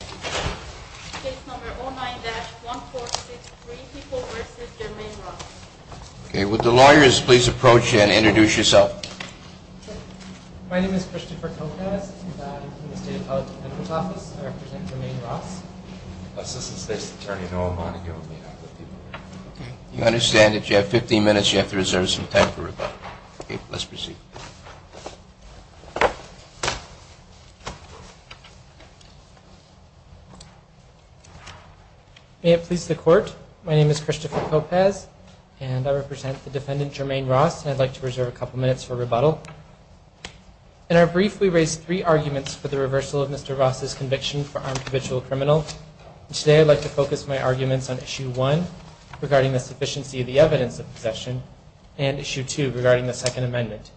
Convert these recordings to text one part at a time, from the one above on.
Case number 09-1463, people v. Jermaine Ross. Okay, would the lawyers please approach and introduce yourself. My name is Christopher Kocas and I'm from the State Appellate Defender's Office. I represent Jermaine Ross. Assistant State's Attorney Noah Monaghan. You understand that you have 15 minutes, you have to reserve some time for rebuttal. Okay, let's proceed. May it please the Court, my name is Christopher Kocas and I represent the defendant Jermaine Ross. I'd like to reserve a couple minutes for rebuttal. In our brief, we raised three arguments for the reversal of Mr. Ross' conviction for armed provisional criminal. Today, I'd like to focus my arguments on Issue 1 regarding the sufficiency of the evidence of possession and Issue 2 regarding the Second Amendment.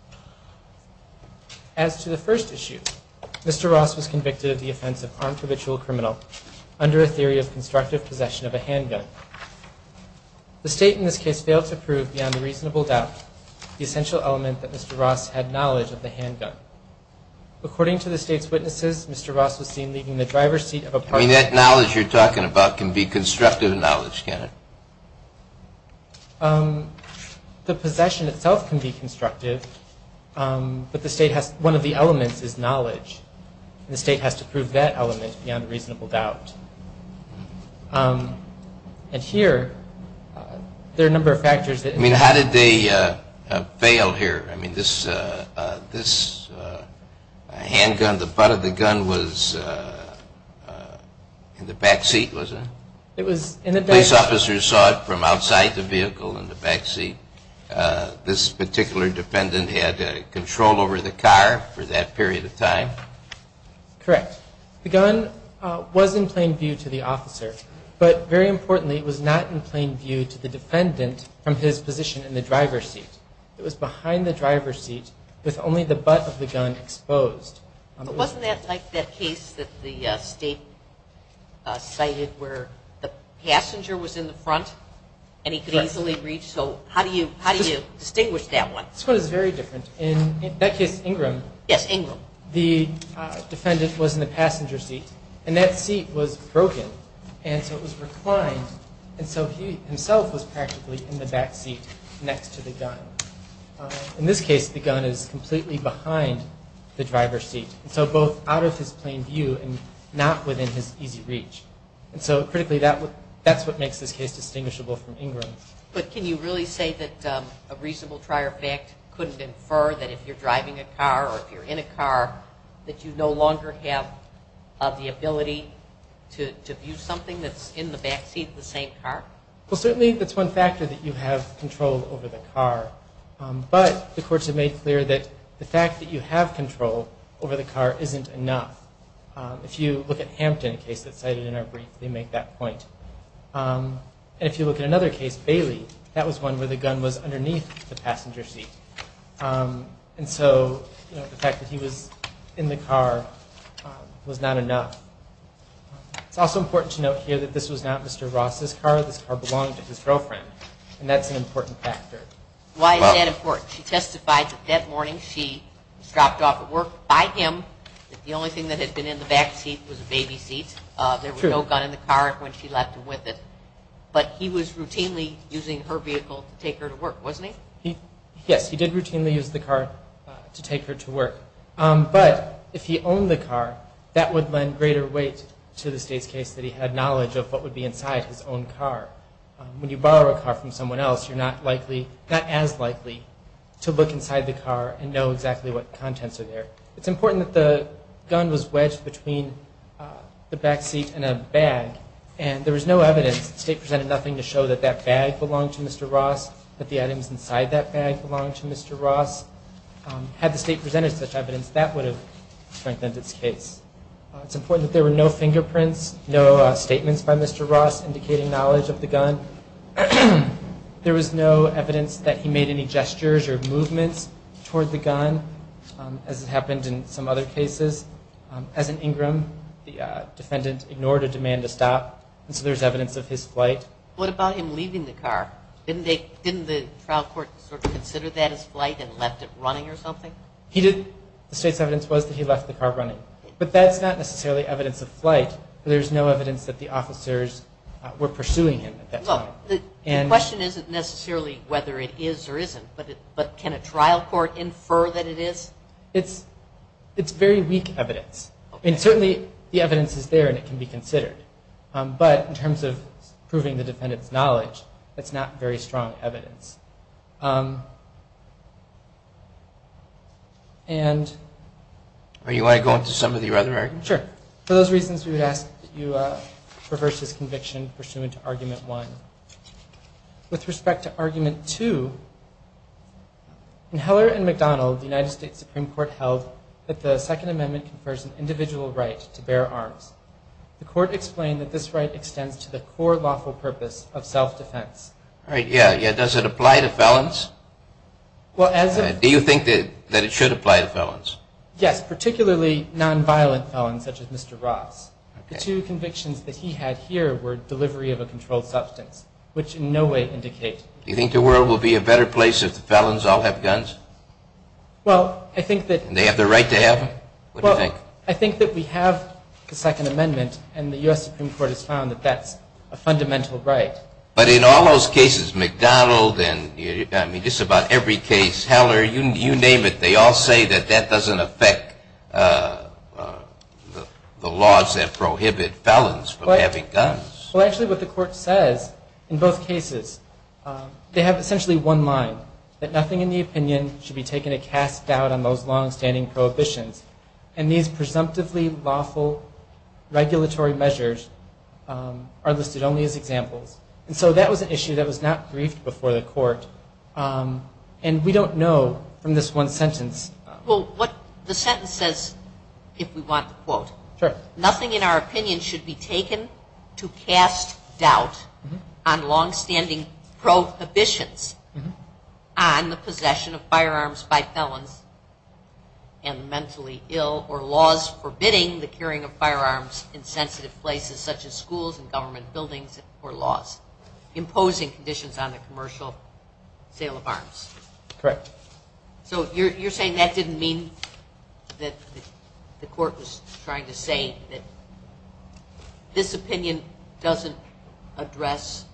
As to the first issue, Mr. Ross was convicted of the offense of armed provisional criminal under a theory of constructive possession of a handgun. The State in this case failed to prove beyond reasonable doubt the essential element that Mr. Ross had knowledge of the handgun. According to the State's witnesses, Mr. Ross was seen leaving the driver's seat of a parked car. I mean, that knowledge you're talking about can be constructive knowledge, can it? The possession itself can be constructive, but one of the elements is knowledge, and the State has to prove that element beyond reasonable doubt. And here, there are a number of factors. I mean, how did they fail here? I mean, this handgun, the butt of the gun was in the back seat, was it? It was in the back seat. Police officers saw it from outside the vehicle in the back seat. This particular defendant had control over the car for that period of time? Correct. The gun was in plain view to the officer, but very importantly, it was not in plain view to the defendant from his position in the driver's seat. It was behind the driver's seat with only the butt of the gun exposed. But wasn't that like that case that the State cited where the passenger was in the front and he could easily reach? So how do you distinguish that one? This one is very different. In that case, Ingram, the defendant was in the passenger seat, and that seat was broken, and so it was reclined, and so he himself was practically in the back seat next to the gun. In this case, the gun is completely behind the driver's seat, and so both out of his plain view and not within his easy reach. And so critically, that's what makes this case distinguishable from Ingram's. But can you really say that a reasonable trier of fact couldn't infer that if you're driving a car or if you're in a car that you no longer have the ability to view something that's in the back seat of the same car? Well, certainly that's one factor that you have control over the car. But the courts have made clear that the fact that you have control over the car isn't enough. If you look at Hampton, a case that's cited in our brief, they make that point. And if you look at another case, Bailey, that was one where the gun was underneath the passenger seat. And so the fact that he was in the car was not enough. It's also important to note here that this was not Mr. Ross's car. This car belonged to his girlfriend, and that's an important factor. Why is that important? She testified that that morning she was dropped off at work by him. The only thing that had been in the back seat was a baby seat. There was no gun in the car when she left him with it. But he was routinely using her vehicle to take her to work, wasn't he? Yes, he did routinely use the car to take her to work. But if he owned the car, that would lend greater weight to the State's case that he had knowledge of what would be inside his own car. When you borrow a car from someone else, you're not as likely to look inside the car and know exactly what contents are there. It's important that the gun was wedged between the back seat and a bag, and there was no evidence. The State presented nothing to show that that bag belonged to Mr. Ross, that the items inside that bag belonged to Mr. Ross. Had the State presented such evidence, that would have strengthened its case. It's important that there were no fingerprints, no statements by Mr. Ross indicating knowledge of the gun. There was no evidence that he made any gestures or movements toward the gun, as has happened in some other cases. As an Ingram, the defendant ignored a demand to stop, and so there's evidence of his flight. What about him leaving the car? Didn't the trial court sort of consider that as flight and left it running or something? The State's evidence was that he left the car running, but that's not necessarily evidence of flight. There's no evidence that the officers were pursuing him at that time. The question isn't necessarily whether it is or isn't, but can a trial court infer that it is? It's very weak evidence, and certainly the evidence is there and it can be considered. But in terms of proving the defendant's knowledge, it's not very strong evidence. Do you want to go into some of the other arguments? Sure. For those reasons, we would ask that you reverse this conviction pursuant to Argument 1. With respect to Argument 2, in Heller and McDonald, the United States Supreme Court held that the Second Amendment confers an individual right to bear arms. The court explained that this right extends to the core lawful purpose of self-defense. All right, yeah. Does it apply to felons? Do you think that it should apply to felons? Yes, particularly nonviolent felons such as Mr. Ross. The two convictions that he had here were delivery of a controlled substance, which in no way indicate... Do you think the world will be a better place if the felons all have guns? Well, I think that... And they have the right to have them? What do you think? I think that we have the Second Amendment, and the U.S. Supreme Court has found that that's a fundamental right. But in all those cases, McDonald and, I mean, just about every case, Heller, you name it, they all say that that doesn't affect the laws that prohibit felons from having guns. Well, actually, what the court says in both cases, they have essentially one line, that nothing in the opinion should be taken to cast doubt on those longstanding prohibitions. And these presumptively lawful regulatory measures are listed only as examples. And so that was an issue that was not briefed before the court. And we don't know from this one sentence. Well, what the sentence says, if we want to quote, nothing in our opinion should be taken to cast doubt on longstanding prohibitions on the possession of firearms by felons and mentally ill or laws forbidding the carrying of firearms in sensitive places such as schools and government buildings or laws imposing conditions on the commercial sale of arms. Correct. So you're saying that didn't mean that the court was trying to say that this opinion doesn't address...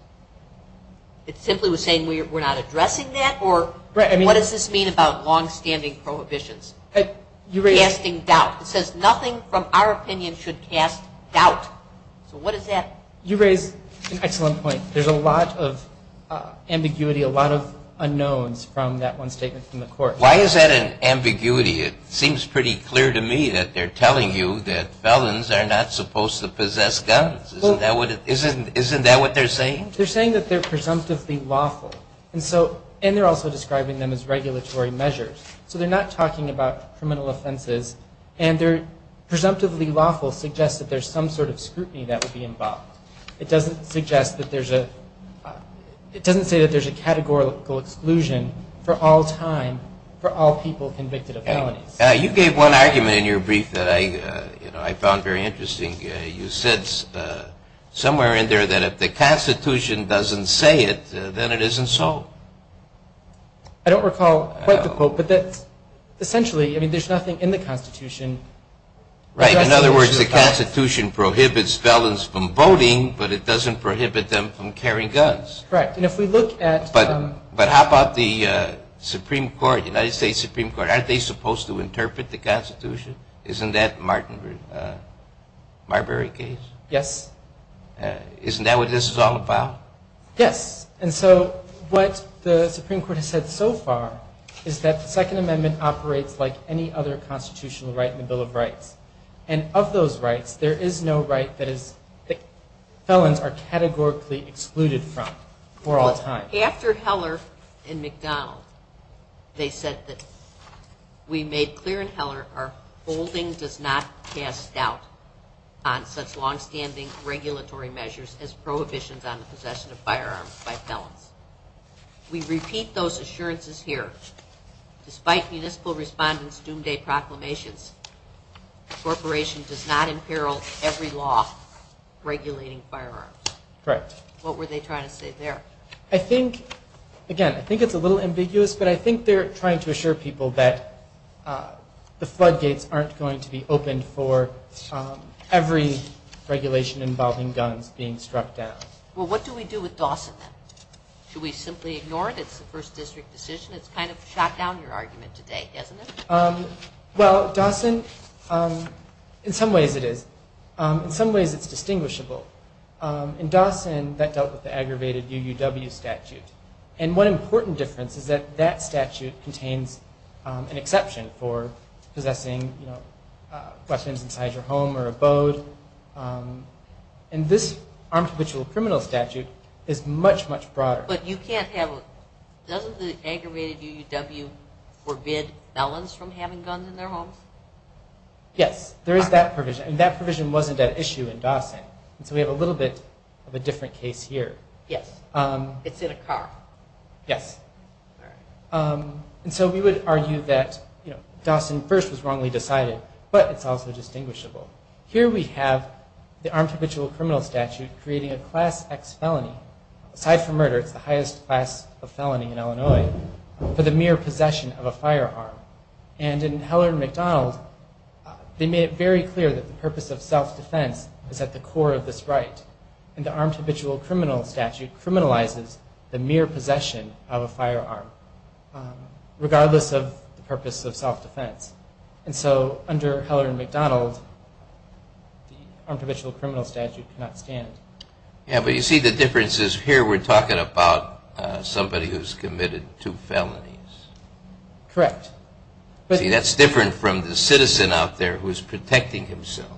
It simply was saying we're not addressing that? Or what does this mean about longstanding prohibitions? Casting doubt. It says nothing from our opinion should cast doubt. So what does that... You raise an excellent point. There's a lot of ambiguity, a lot of unknowns from that one statement from the court. Why is that an ambiguity? It seems pretty clear to me that they're telling you that felons are not supposed to possess guns. Isn't that what they're saying? They're saying that they're presumptively lawful. And they're also describing them as regulatory measures. So they're not talking about criminal offenses. And they're presumptively lawful suggests that there's some sort of scrutiny that would be involved. It doesn't suggest that there's a... It doesn't say that there's a categorical exclusion for all time for all people convicted of felonies. You gave one argument in your brief that I found very interesting. You said somewhere in there that if the Constitution doesn't say it, then it isn't so. I don't recall quite the quote. But essentially, I mean, there's nothing in the Constitution. Right. In other words, the Constitution prohibits felons from voting, but it doesn't prohibit them from carrying guns. Correct. And if we look at... But how about the Supreme Court, United States Supreme Court? Aren't they supposed to interpret the Constitution? Isn't that Marbury case? Yes. Isn't that what this is all about? Yes. And so what the Supreme Court has said so far is that the Second Amendment operates like any other constitutional right in the Bill of Rights. And of those rights, there is no right that felons are categorically excluded from for all time. After Heller and McDonald, they said that we made clear in Heller our holding does not cast doubt on such longstanding regulatory measures as prohibitions on the possession of firearms by felons. We repeat those assurances here. Despite municipal respondents' doomsday proclamations, the corporation does not imperil every law regulating firearms. Correct. What were they trying to say there? I think, again, I think it's a little ambiguous, but I think they're trying to assure people that the floodgates aren't going to be opened for every regulation involving guns being struck down. Well, what do we do with Dawson then? Should we simply ignore it? It's the first district decision. It's kind of shot down your argument today, hasn't it? Well, Dawson, in some ways it is. In some ways it's distinguishable. In Dawson, that dealt with the aggravated UUW statute. And one important difference is that that statute contains an exception for possessing weapons inside your home or abode. And this armed habitual criminal statute is much, much broader. But you can't have, doesn't the aggravated UUW forbid felons from having guns in their homes? Yes, there is that provision. And that provision wasn't at issue in Dawson. And so we have a little bit of a different case here. Yes. It's in a car. Yes. All right. And so we would argue that Dawson first was wrongly decided, but it's also distinguishable. Here we have the armed habitual criminal statute creating a Class X felony. Aside from murder, it's the highest class of felony in Illinois for the mere possession of a firearm. And in Heller and McDonald, they made it very clear that the purpose of self-defense is at the core of this right. And the armed habitual criminal statute criminalizes the mere possession of a firearm, regardless of the purpose of self-defense. And so under Heller and McDonald, the armed habitual criminal statute cannot stand. Yes, but you see the difference is here we're talking about somebody who's committed two felonies. Correct. See, that's different from the citizen out there who's protecting himself.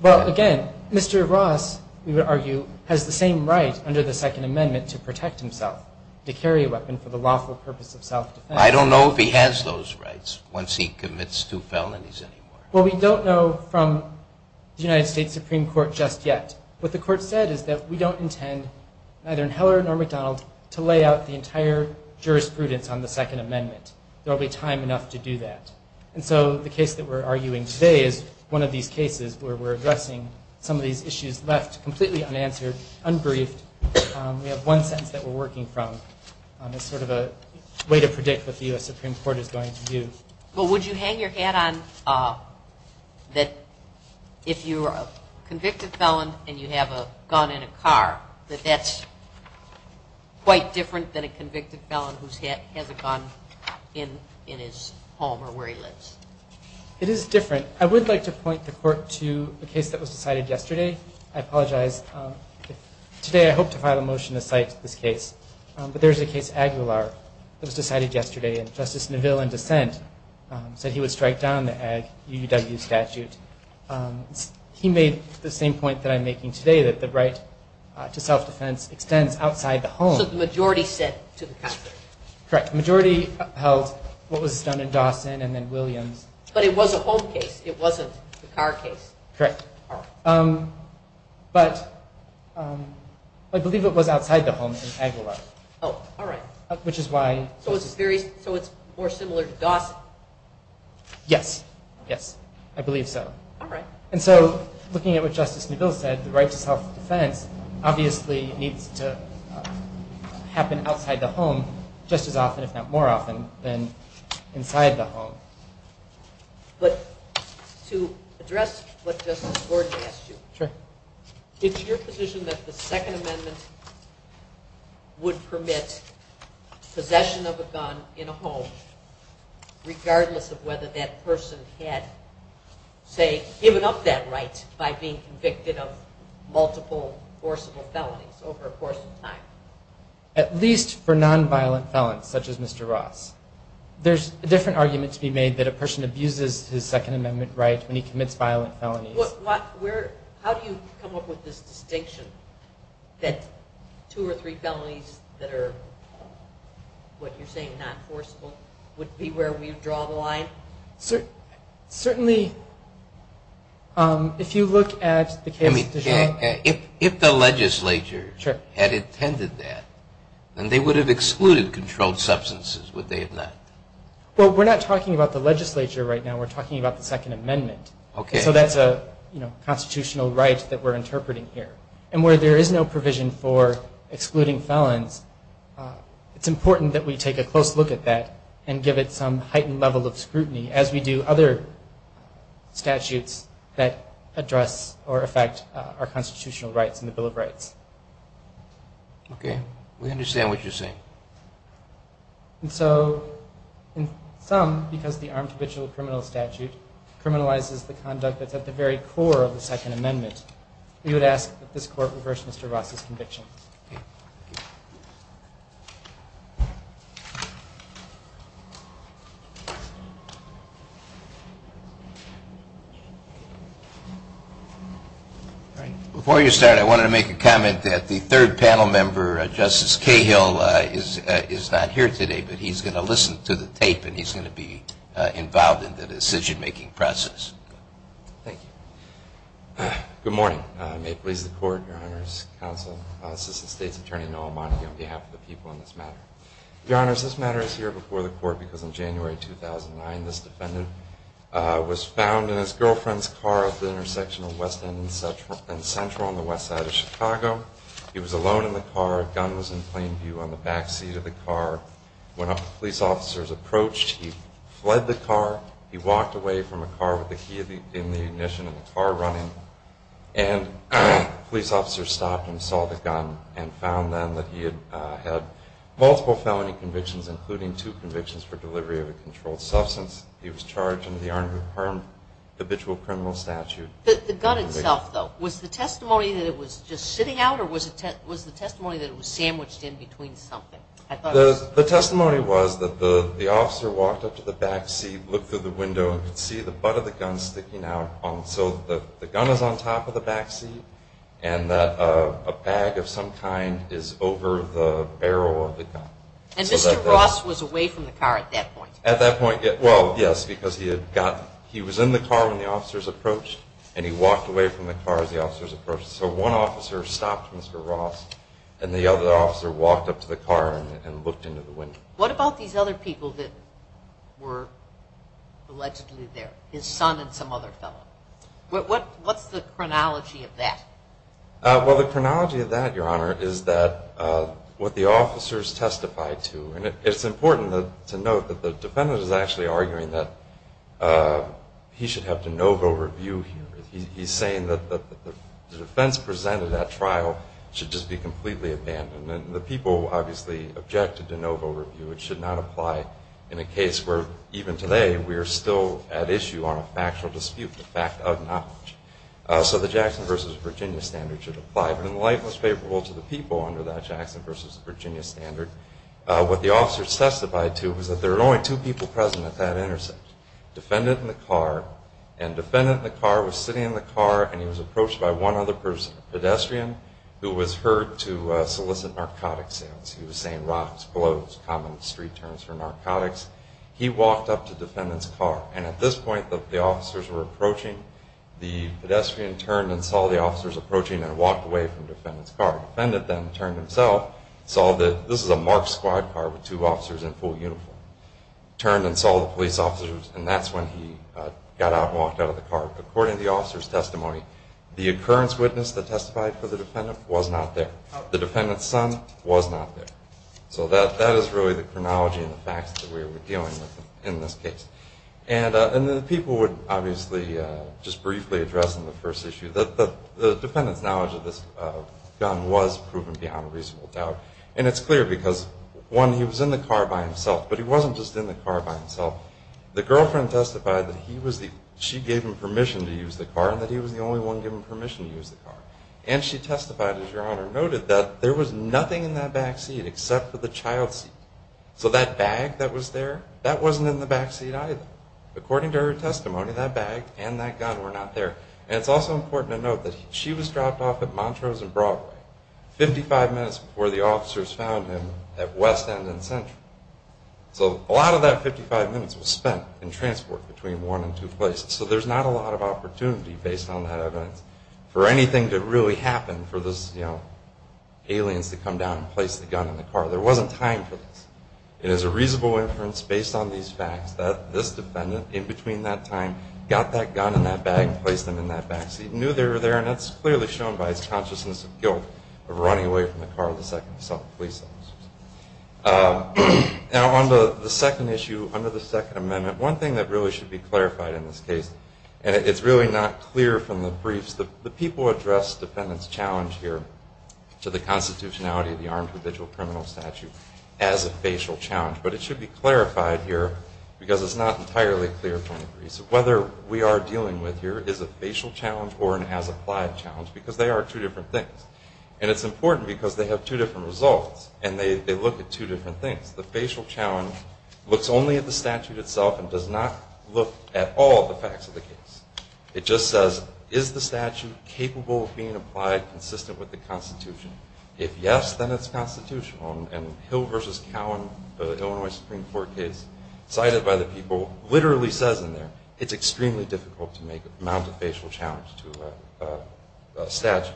Well, again, Mr. Ross, we would argue, has the same right under the Second Amendment to protect himself, to carry a weapon for the lawful purpose of self-defense. I don't know if he has those rights once he commits two felonies anymore. Well, we don't know from the United States Supreme Court just yet. What the court said is that we don't intend, neither in Heller nor McDonald, to lay out the entire jurisprudence on the Second Amendment. There will be time enough to do that. And so the case that we're arguing today is one of these cases where we're addressing some of these issues left completely unanswered, unbriefed. We have one sentence that we're working from as sort of a way to predict what the U.S. Supreme Court is going to do. Well, would you hang your hat on that if you're a convicted felon and you have a gun in a car, that that's quite different than a convicted felon who has a gun in his home or where he lives? It is different. I would like to point the court to a case that was decided yesterday. I apologize. Today I hope to file a motion to cite this case, but there is a case, Aguilar, that was decided yesterday, and Justice Neville, in dissent, said he would strike down the UUW statute. He made the same point that I'm making today, that the right to self-defense extends outside the home. So the majority said to the Congress. Correct. The majority held what was done in Dawson and then Williams. But it was a home case. It wasn't a car case. Correct. But I believe it was outside the home in Aguilar. Oh, all right. So it's more similar to Dawson? Yes, yes. I believe so. All right. And so looking at what Justice Neville said, the right to self-defense obviously needs to happen outside the home just as often, if not more often, than inside the home. But to address what Justice Gordon asked you, it's your position that the Second Amendment would permit possession of a gun in a home, regardless of whether that person had, say, given up that right by being convicted of multiple forcible felonies over a course of time? At least for nonviolent felons, such as Mr. Ross. There's a different argument to be made that a person abuses his Second Amendment right when he commits violent felonies. How do you come up with this distinction that two or three felonies that are, what you're saying, not forcible, would be where we draw the line? Certainly, if you look at the case of Dijon. If the legislature had intended that, then they would have excluded controlled substances, would they have not? Well, we're not talking about the legislature right now. We're talking about the Second Amendment. Okay. So that's a constitutional right that we're interpreting here. And where there is no provision for excluding felons, it's important that we take a close look at that and give it some heightened level of scrutiny as we do other statutes that address or affect our constitutional rights in the Bill of Rights. Okay. We understand what you're saying. And so in sum, because the armed habitual criminal statute criminalizes the conduct that's at the very core of the Second Amendment, we would ask that this Court reverse Mr. Ross's conviction. Before you start, I wanted to make a comment that the third panel member, Justice Cahill, is not here today, but he's going to listen to the tape and he's going to be involved in the decision-making process. Thank you. Good morning. May it please the Court, Your Honors, Counsel, Mr. Ross. This is the State's Attorney, Noah Montague, on behalf of the people in this matter. Your Honors, this matter is here before the Court because in January 2009, this defendant was found in his girlfriend's car at the intersection of West End and Central on the west side of Chicago. He was alone in the car. A gun was in plain view on the backseat of the car. When police officers approached, he fled the car. He walked away from the car with the key in the ignition and the car running. And police officers stopped and saw the gun and found then that he had had multiple felony convictions, including two convictions for delivery of a controlled substance. He was charged under the armed and harmed habitual criminal statute. The gun itself, though, was the testimony that it was just sitting out or was the testimony that it was sandwiched in between something? The testimony was that the officer walked up to the backseat, looked through the window, and could see the butt of the gun sticking out so that the gun was on top of the backseat and that a bag of some kind is over the barrel of the gun. And Mr. Ross was away from the car at that point? At that point, well, yes, because he was in the car when the officers approached, and he walked away from the car as the officers approached. So one officer stopped Mr. Ross, and the other officer walked up to the car and looked into the window. What about these other people that were allegedly there, his son and some other fellow? What's the chronology of that? Well, the chronology of that, Your Honor, is what the officers testified to. And it's important to note that the defendant is actually arguing that he should have de novo review here. He's saying that the defense presented at trial should just be completely abandoned. And the people obviously objected to de novo review. It should not apply in a case where even today we are still at issue on a factual dispute, the fact of knowledge. So the Jackson v. Virginia standard should apply. But in the light most favorable to the people under that Jackson v. Virginia standard, what the officers testified to was that there were only two people present at that intersection, defendant in the car, and defendant in the car was sitting in the car, and he was approached by one other pedestrian who was heard to solicit narcotic sales. He was saying rocks, clothes, common street terms for narcotics. He walked up to defendant's car. And at this point, the officers were approaching. The pedestrian turned and saw the officers approaching and walked away from defendant's car. Defendant then turned himself, saw that this is a marked squad car with two officers in full uniform, turned and saw the police officers, and that's when he got out and walked out of the car. According to the officers' testimony, the occurrence witness that testified for the defendant was not there. The defendant's son was not there. So that is really the chronology and the facts that we are dealing with in this case. And the people would obviously just briefly address in the first issue that the defendant's knowledge of this gun was proven beyond a reasonable doubt. And it's clear because, one, he was in the car by himself, but he wasn't just in the car by himself. The girlfriend testified that she gave him permission to use the car and that he was the only one given permission to use the car. And she testified, as Your Honor noted, that there was nothing in that back seat except for the child seat. So that bag that was there, that wasn't in the back seat either. According to her testimony, that bag and that gun were not there. And it's also important to note that she was dropped off at Montrose and Broadway 55 minutes before the officers found him at West End and Central. So a lot of that 55 minutes was spent in transport between one and two places. So there's not a lot of opportunity, based on that evidence, for anything to really happen for those aliens to come down and place the gun in the car. There wasn't time for this. It is a reasonable inference, based on these facts, that this defendant, in between that time, got that gun in that bag and placed them in that back seat and knew they were there. And that's clearly shown by his consciousness of guilt of running away from the car with the second police officer. Now, on the second issue, under the Second Amendment, one thing that really should be clarified in this case, and it's really not clear from the briefs, the people addressed the defendant's challenge here to the constitutionality of the armed individual criminal statute as a facial challenge. But it should be clarified here, because it's not entirely clear from the briefs, whether we are dealing with here is a facial challenge or an as-applied challenge, because they are two different things. And it's important, because they have two different results, and they look at two different things. The facial challenge looks only at the statute itself and does not look at all the facts of the case. It just says, is the statute capable of being applied consistent with the constitution? If yes, then it's constitutional. And Hill v. Cowan, the Illinois Supreme Court case, cited by the people, literally says in there, it's extremely difficult to mount a facial challenge to a statute.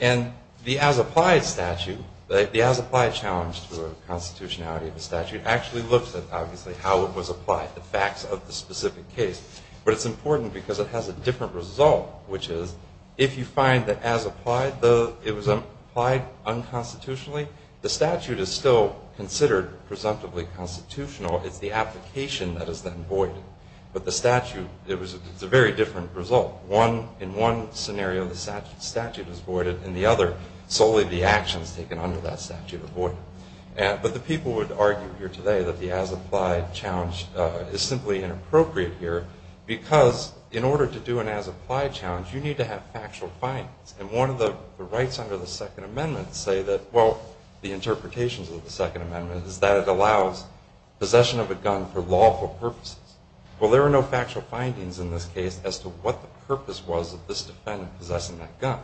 And the as-applied statute, the as-applied challenge to a constitutionality of a statute, actually looks at, obviously, how it was applied, the facts of the specific case. But it's important, because it has a different result, which is if you find that as-applied, it was applied unconstitutionally, the statute is still considered presumptively constitutional. It's the application that is then void. But the statute, it's a very different result. In one scenario, the statute is voided. In the other, solely the actions taken under that statute are voided. But the people would argue here today that the as-applied challenge is simply inappropriate here, because in order to do an as-applied challenge, you need to have factual findings. And one of the rights under the Second Amendment say that, well, the interpretations of the Second Amendment is that it allows possession of a gun for lawful purposes. Well, there are no factual findings in this case as to what the purpose was of this defendant possessing that gun.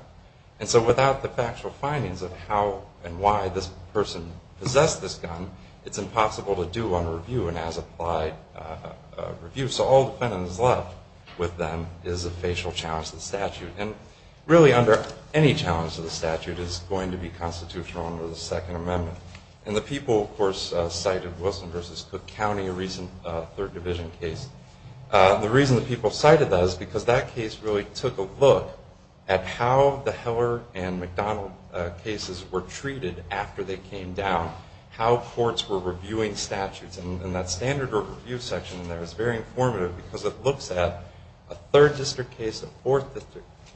And so without the factual findings of how and why this person possessed this gun, it's impossible to do on review an as-applied review. So all defendant is left with them is a facial challenge to the statute. And really under any challenge to the statute is going to be constitutional under the Second Amendment. And the people, of course, cited Wilson v. Cook County, a recent Third Division case. The reason the people cited that is because that case really took a look at how the Heller and McDonald cases were treated after they came down, how courts were reviewing statutes. And that standard review section in there is very informative because it looks at a Third District case, a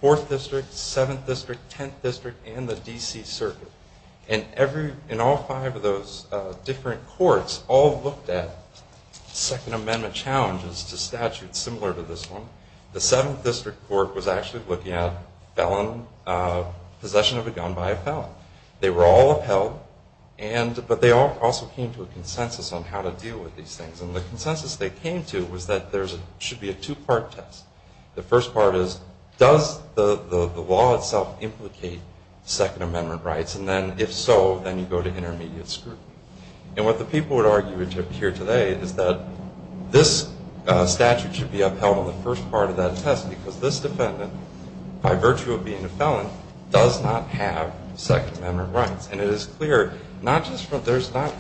Fourth District, Seventh District, Tenth District, and the D.C. Circuit. And in all five of those different courts all looked at Second Amendment challenges to statutes similar to this one. The Seventh District Court was actually looking at possession of a gun by a felon. They were all upheld, but they also came to a consensus on how to deal with these things. And the consensus they came to was that there should be a two-part test. The first part is, does the law itself implicate Second Amendment rights? And then if so, then you go to intermediate scrutiny. And what the people would argue here today is that this statute should be upheld on the first part of that test because this defendant, by virtue of being a felon, does not have Second Amendment rights. And it is clear, there's not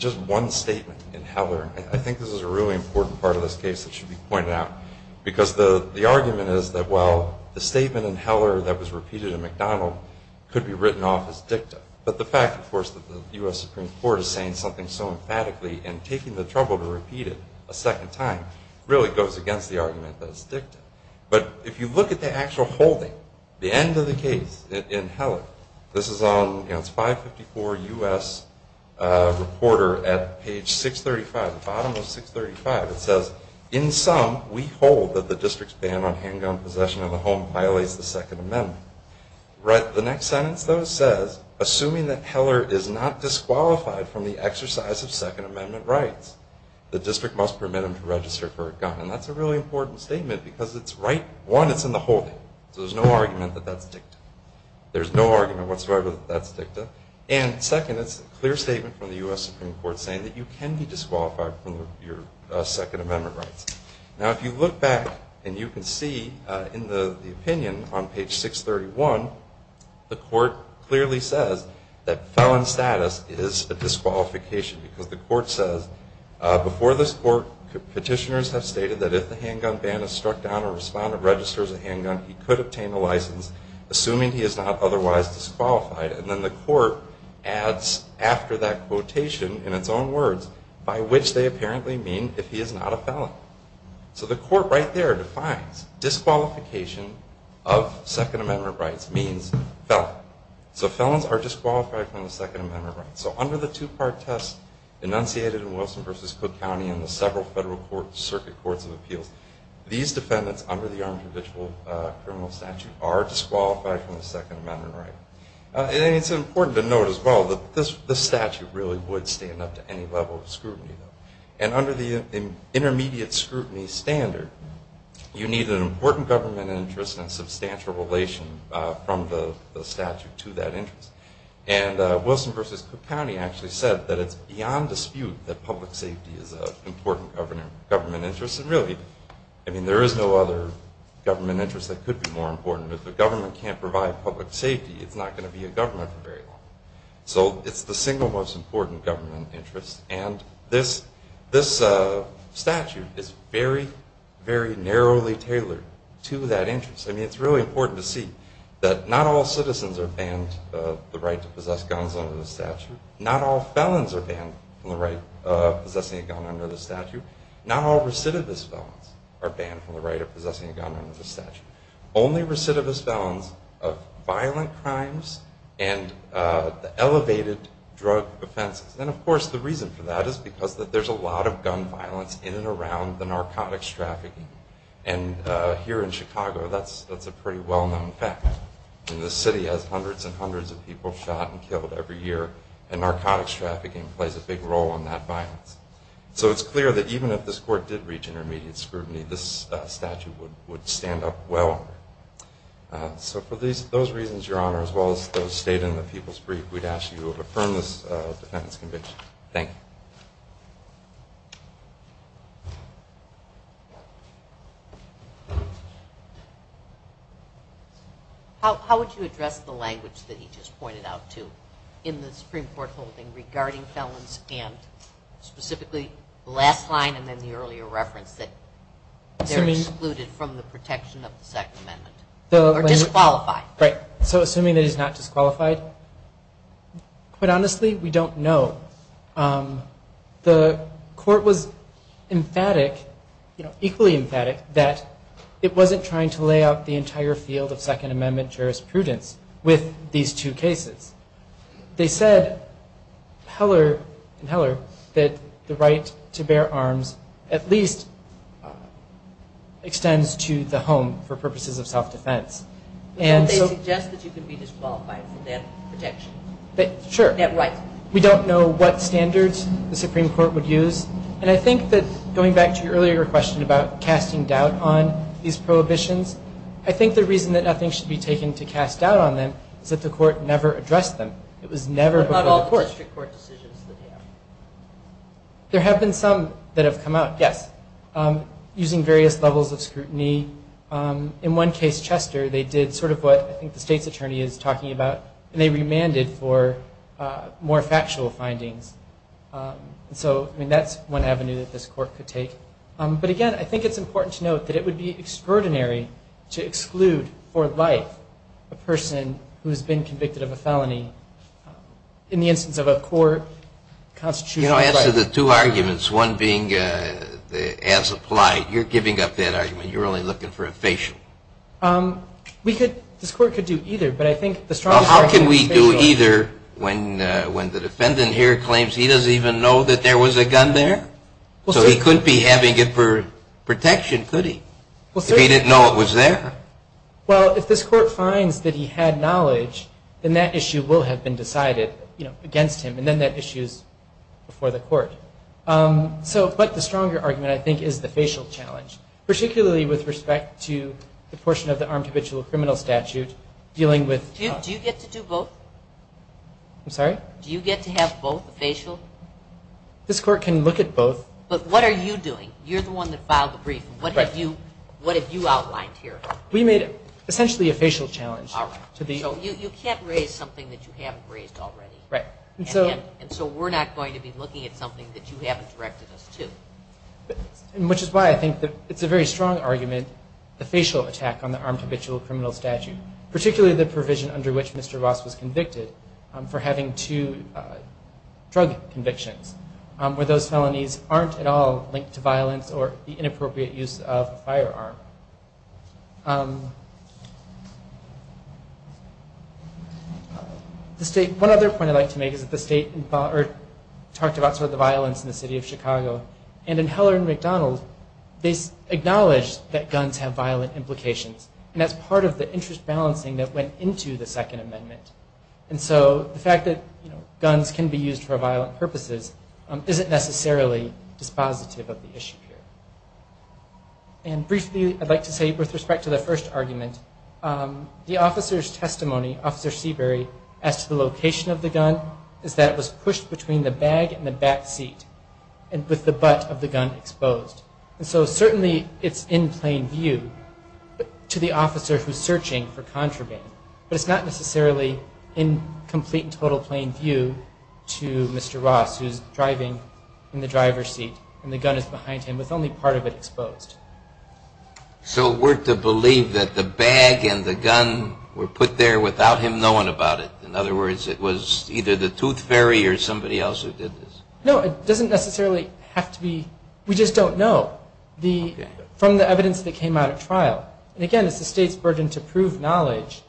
just one statement in Heller. I think this is a really important part of this case that should be pointed out because the argument is that, well, the statement in Heller that was repeated in McDonald could be written off as dicta. But the fact, of course, that the U.S. Supreme Court is saying something so emphatically and taking the trouble to repeat it a second time really goes against the argument that it's dicta. But if you look at the actual holding, the end of the case in Heller, this is on 554 U.S. Reporter at page 635, the bottom of 635. It says, in sum, we hold that the district's ban on handgun possession of a home violates the Second Amendment. The next sentence, though, says, assuming that Heller is not disqualified from the exercise of Second Amendment rights, the district must permit him to register for a gun. And that's a really important statement because it's right, one, it's in the holding. So there's no argument that that's dicta. There's no argument whatsoever that that's dicta. And second, it's a clear statement from the U.S. Supreme Court saying that you can be disqualified from your Second Amendment rights. Now, if you look back and you can see in the opinion on page 631, the court clearly says that felon status is a disqualification because the court says, before this court, petitioners have stated that if the handgun ban is struck down or a respondent registers a handgun, he could obtain a license assuming he is not otherwise disqualified. And then the court adds after that quotation, in its own words, by which they apparently mean if he is not a felon. So the court right there defines disqualification of Second Amendment rights means felon. So felons are disqualified from the Second Amendment rights. So under the two-part test enunciated in Wilson v. Cook County and the several Federal Circuit Courts of Appeals, these defendants under the Armed Provisional Criminal Statute are disqualified from the Second Amendment right. And it's important to note as well that this statute really would stand up to any level of scrutiny. And under the intermediate scrutiny standard, you need an important government interest and a substantial relation from the statute to that interest. And Wilson v. Cook County actually said that it's beyond dispute that public safety is an important government interest and really, I mean, there is no other government interest that could be more important. If the government can't provide public safety, it's not going to be a government for very long. So it's the single most important government interest. And this statute is very, very narrowly tailored to that interest. I mean, it's really important to see that not all citizens are banned the right to possess guns under the statute. Not all felons are banned from the right of possessing a gun under the statute. Not all recidivist felons are banned from the right of possessing a gun under the statute. Only recidivist felons of violent crimes and the elevated drug offenses. And, of course, the reason for that is because there's a lot of gun violence in and around the narcotics trafficking. And here in Chicago, that's a pretty well-known fact. The city has hundreds and hundreds of people shot and killed every year, and narcotics trafficking plays a big role in that violence. So it's clear that even if this court did reach intermediate scrutiny, this statute would stand up well. So for those reasons, Your Honor, as well as those stated in the people's brief, we'd ask that you affirm this defendant's conviction. Thank you. How would you address the language that he just pointed out, too, in the Supreme Court holding regarding felons and specifically the last line and then the earlier reference that they're excluded from the protection of the Second Amendment? Or disqualified. Right. So assuming that he's not disqualified. Quite honestly, we don't know. The court was emphatic, equally emphatic, that it wasn't trying to lay out the entire field of Second Amendment jurisprudence with these two cases. They said in Heller that the right to bear arms at least extends to the home for purposes of self-defense. They suggest that you can be disqualified for that protection. Sure. That right. We don't know what standards the Supreme Court would use. And I think that going back to your earlier question about casting doubt on these prohibitions, I think the reason that nothing should be taken to cast doubt on them is that the court never addressed them. It was never before the court. What about all the district court decisions that they have? There have been some that have come out, yes, using various levels of scrutiny. In one case, Chester, they did sort of what I think the state's attorney is talking about, and they remanded for more factual findings. So, I mean, that's one avenue that this court could take. But, again, I think it's important to note that it would be extraordinary to exclude for life a person who has been convicted of a felony in the instance of a court constitutional right. You know, as to the two arguments, one being as applied, you're giving up that argument. You're only looking for a facial. This court could do either, but I think the strongest argument is facial. How can we do either when the defendant here claims he doesn't even know that there was a gun there? So he couldn't be having it for protection, could he, if he didn't know it was there? Well, if this court finds that he had knowledge, then that issue will have been decided against him, and then that issue is before the court. So, but the stronger argument, I think, is the facial challenge, particularly with respect to the portion of the armed habitual criminal statute dealing with- Do you get to do both? I'm sorry? Do you get to have both facial? This court can look at both. But what are you doing? You're the one that filed the brief. What have you outlined here? We made essentially a facial challenge. All right. So you can't raise something that you haven't raised already. Right. And so we're not going to be looking at something that you haven't directed us to. Which is why I think it's a very strong argument, the facial attack on the armed habitual criminal statute, particularly the provision under which Mr. Ross was convicted for having two drug convictions, where those felonies aren't at all linked to violence or the inappropriate use of a firearm. The state- One other point I'd like to make is that the state talked about sort of the violence in the city of Chicago. And in Heller and McDonald, they acknowledged that guns have violent implications. And that's part of the interest balancing that went into the Second Amendment. And so the fact that guns can be used for violent purposes isn't necessarily dispositive of the issue here. And briefly, I'd like to say, with respect to the first argument, the officer's testimony, Officer Seabury, as to the location of the gun, is that it was pushed between the bag and the back seat, with the butt of the gun exposed. And so certainly it's in plain view to the officer who's searching for contraband. But it's not necessarily in complete and total plain view to Mr. Ross, who's driving in the driver's seat and the gun is behind him, with only part of it exposed. So we're to believe that the bag and the gun were put there without him knowing about it? In other words, it was either the tooth fairy or somebody else who did this? No, it doesn't necessarily have to be. We just don't know from the evidence that came out at trial. And again, it's the state's burden to prove knowledge.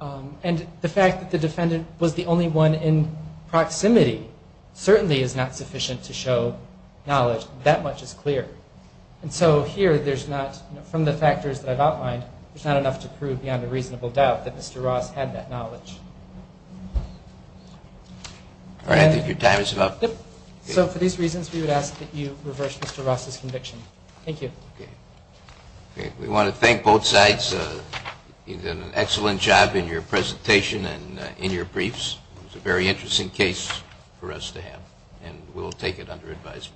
And the fact that the defendant was the only one in proximity certainly is not sufficient to show knowledge. That much is clear. And so here there's not, from the factors that I've outlined, there's not enough to prove beyond a reasonable doubt that Mr. Ross had that knowledge. All right, I think your time is up. So for these reasons, we would ask that you reverse Mr. Ross's conviction. Thank you. We want to thank both sides. You did an excellent job in your presentation and in your briefs. It was a very interesting case for us to have, and we'll take it under advisement.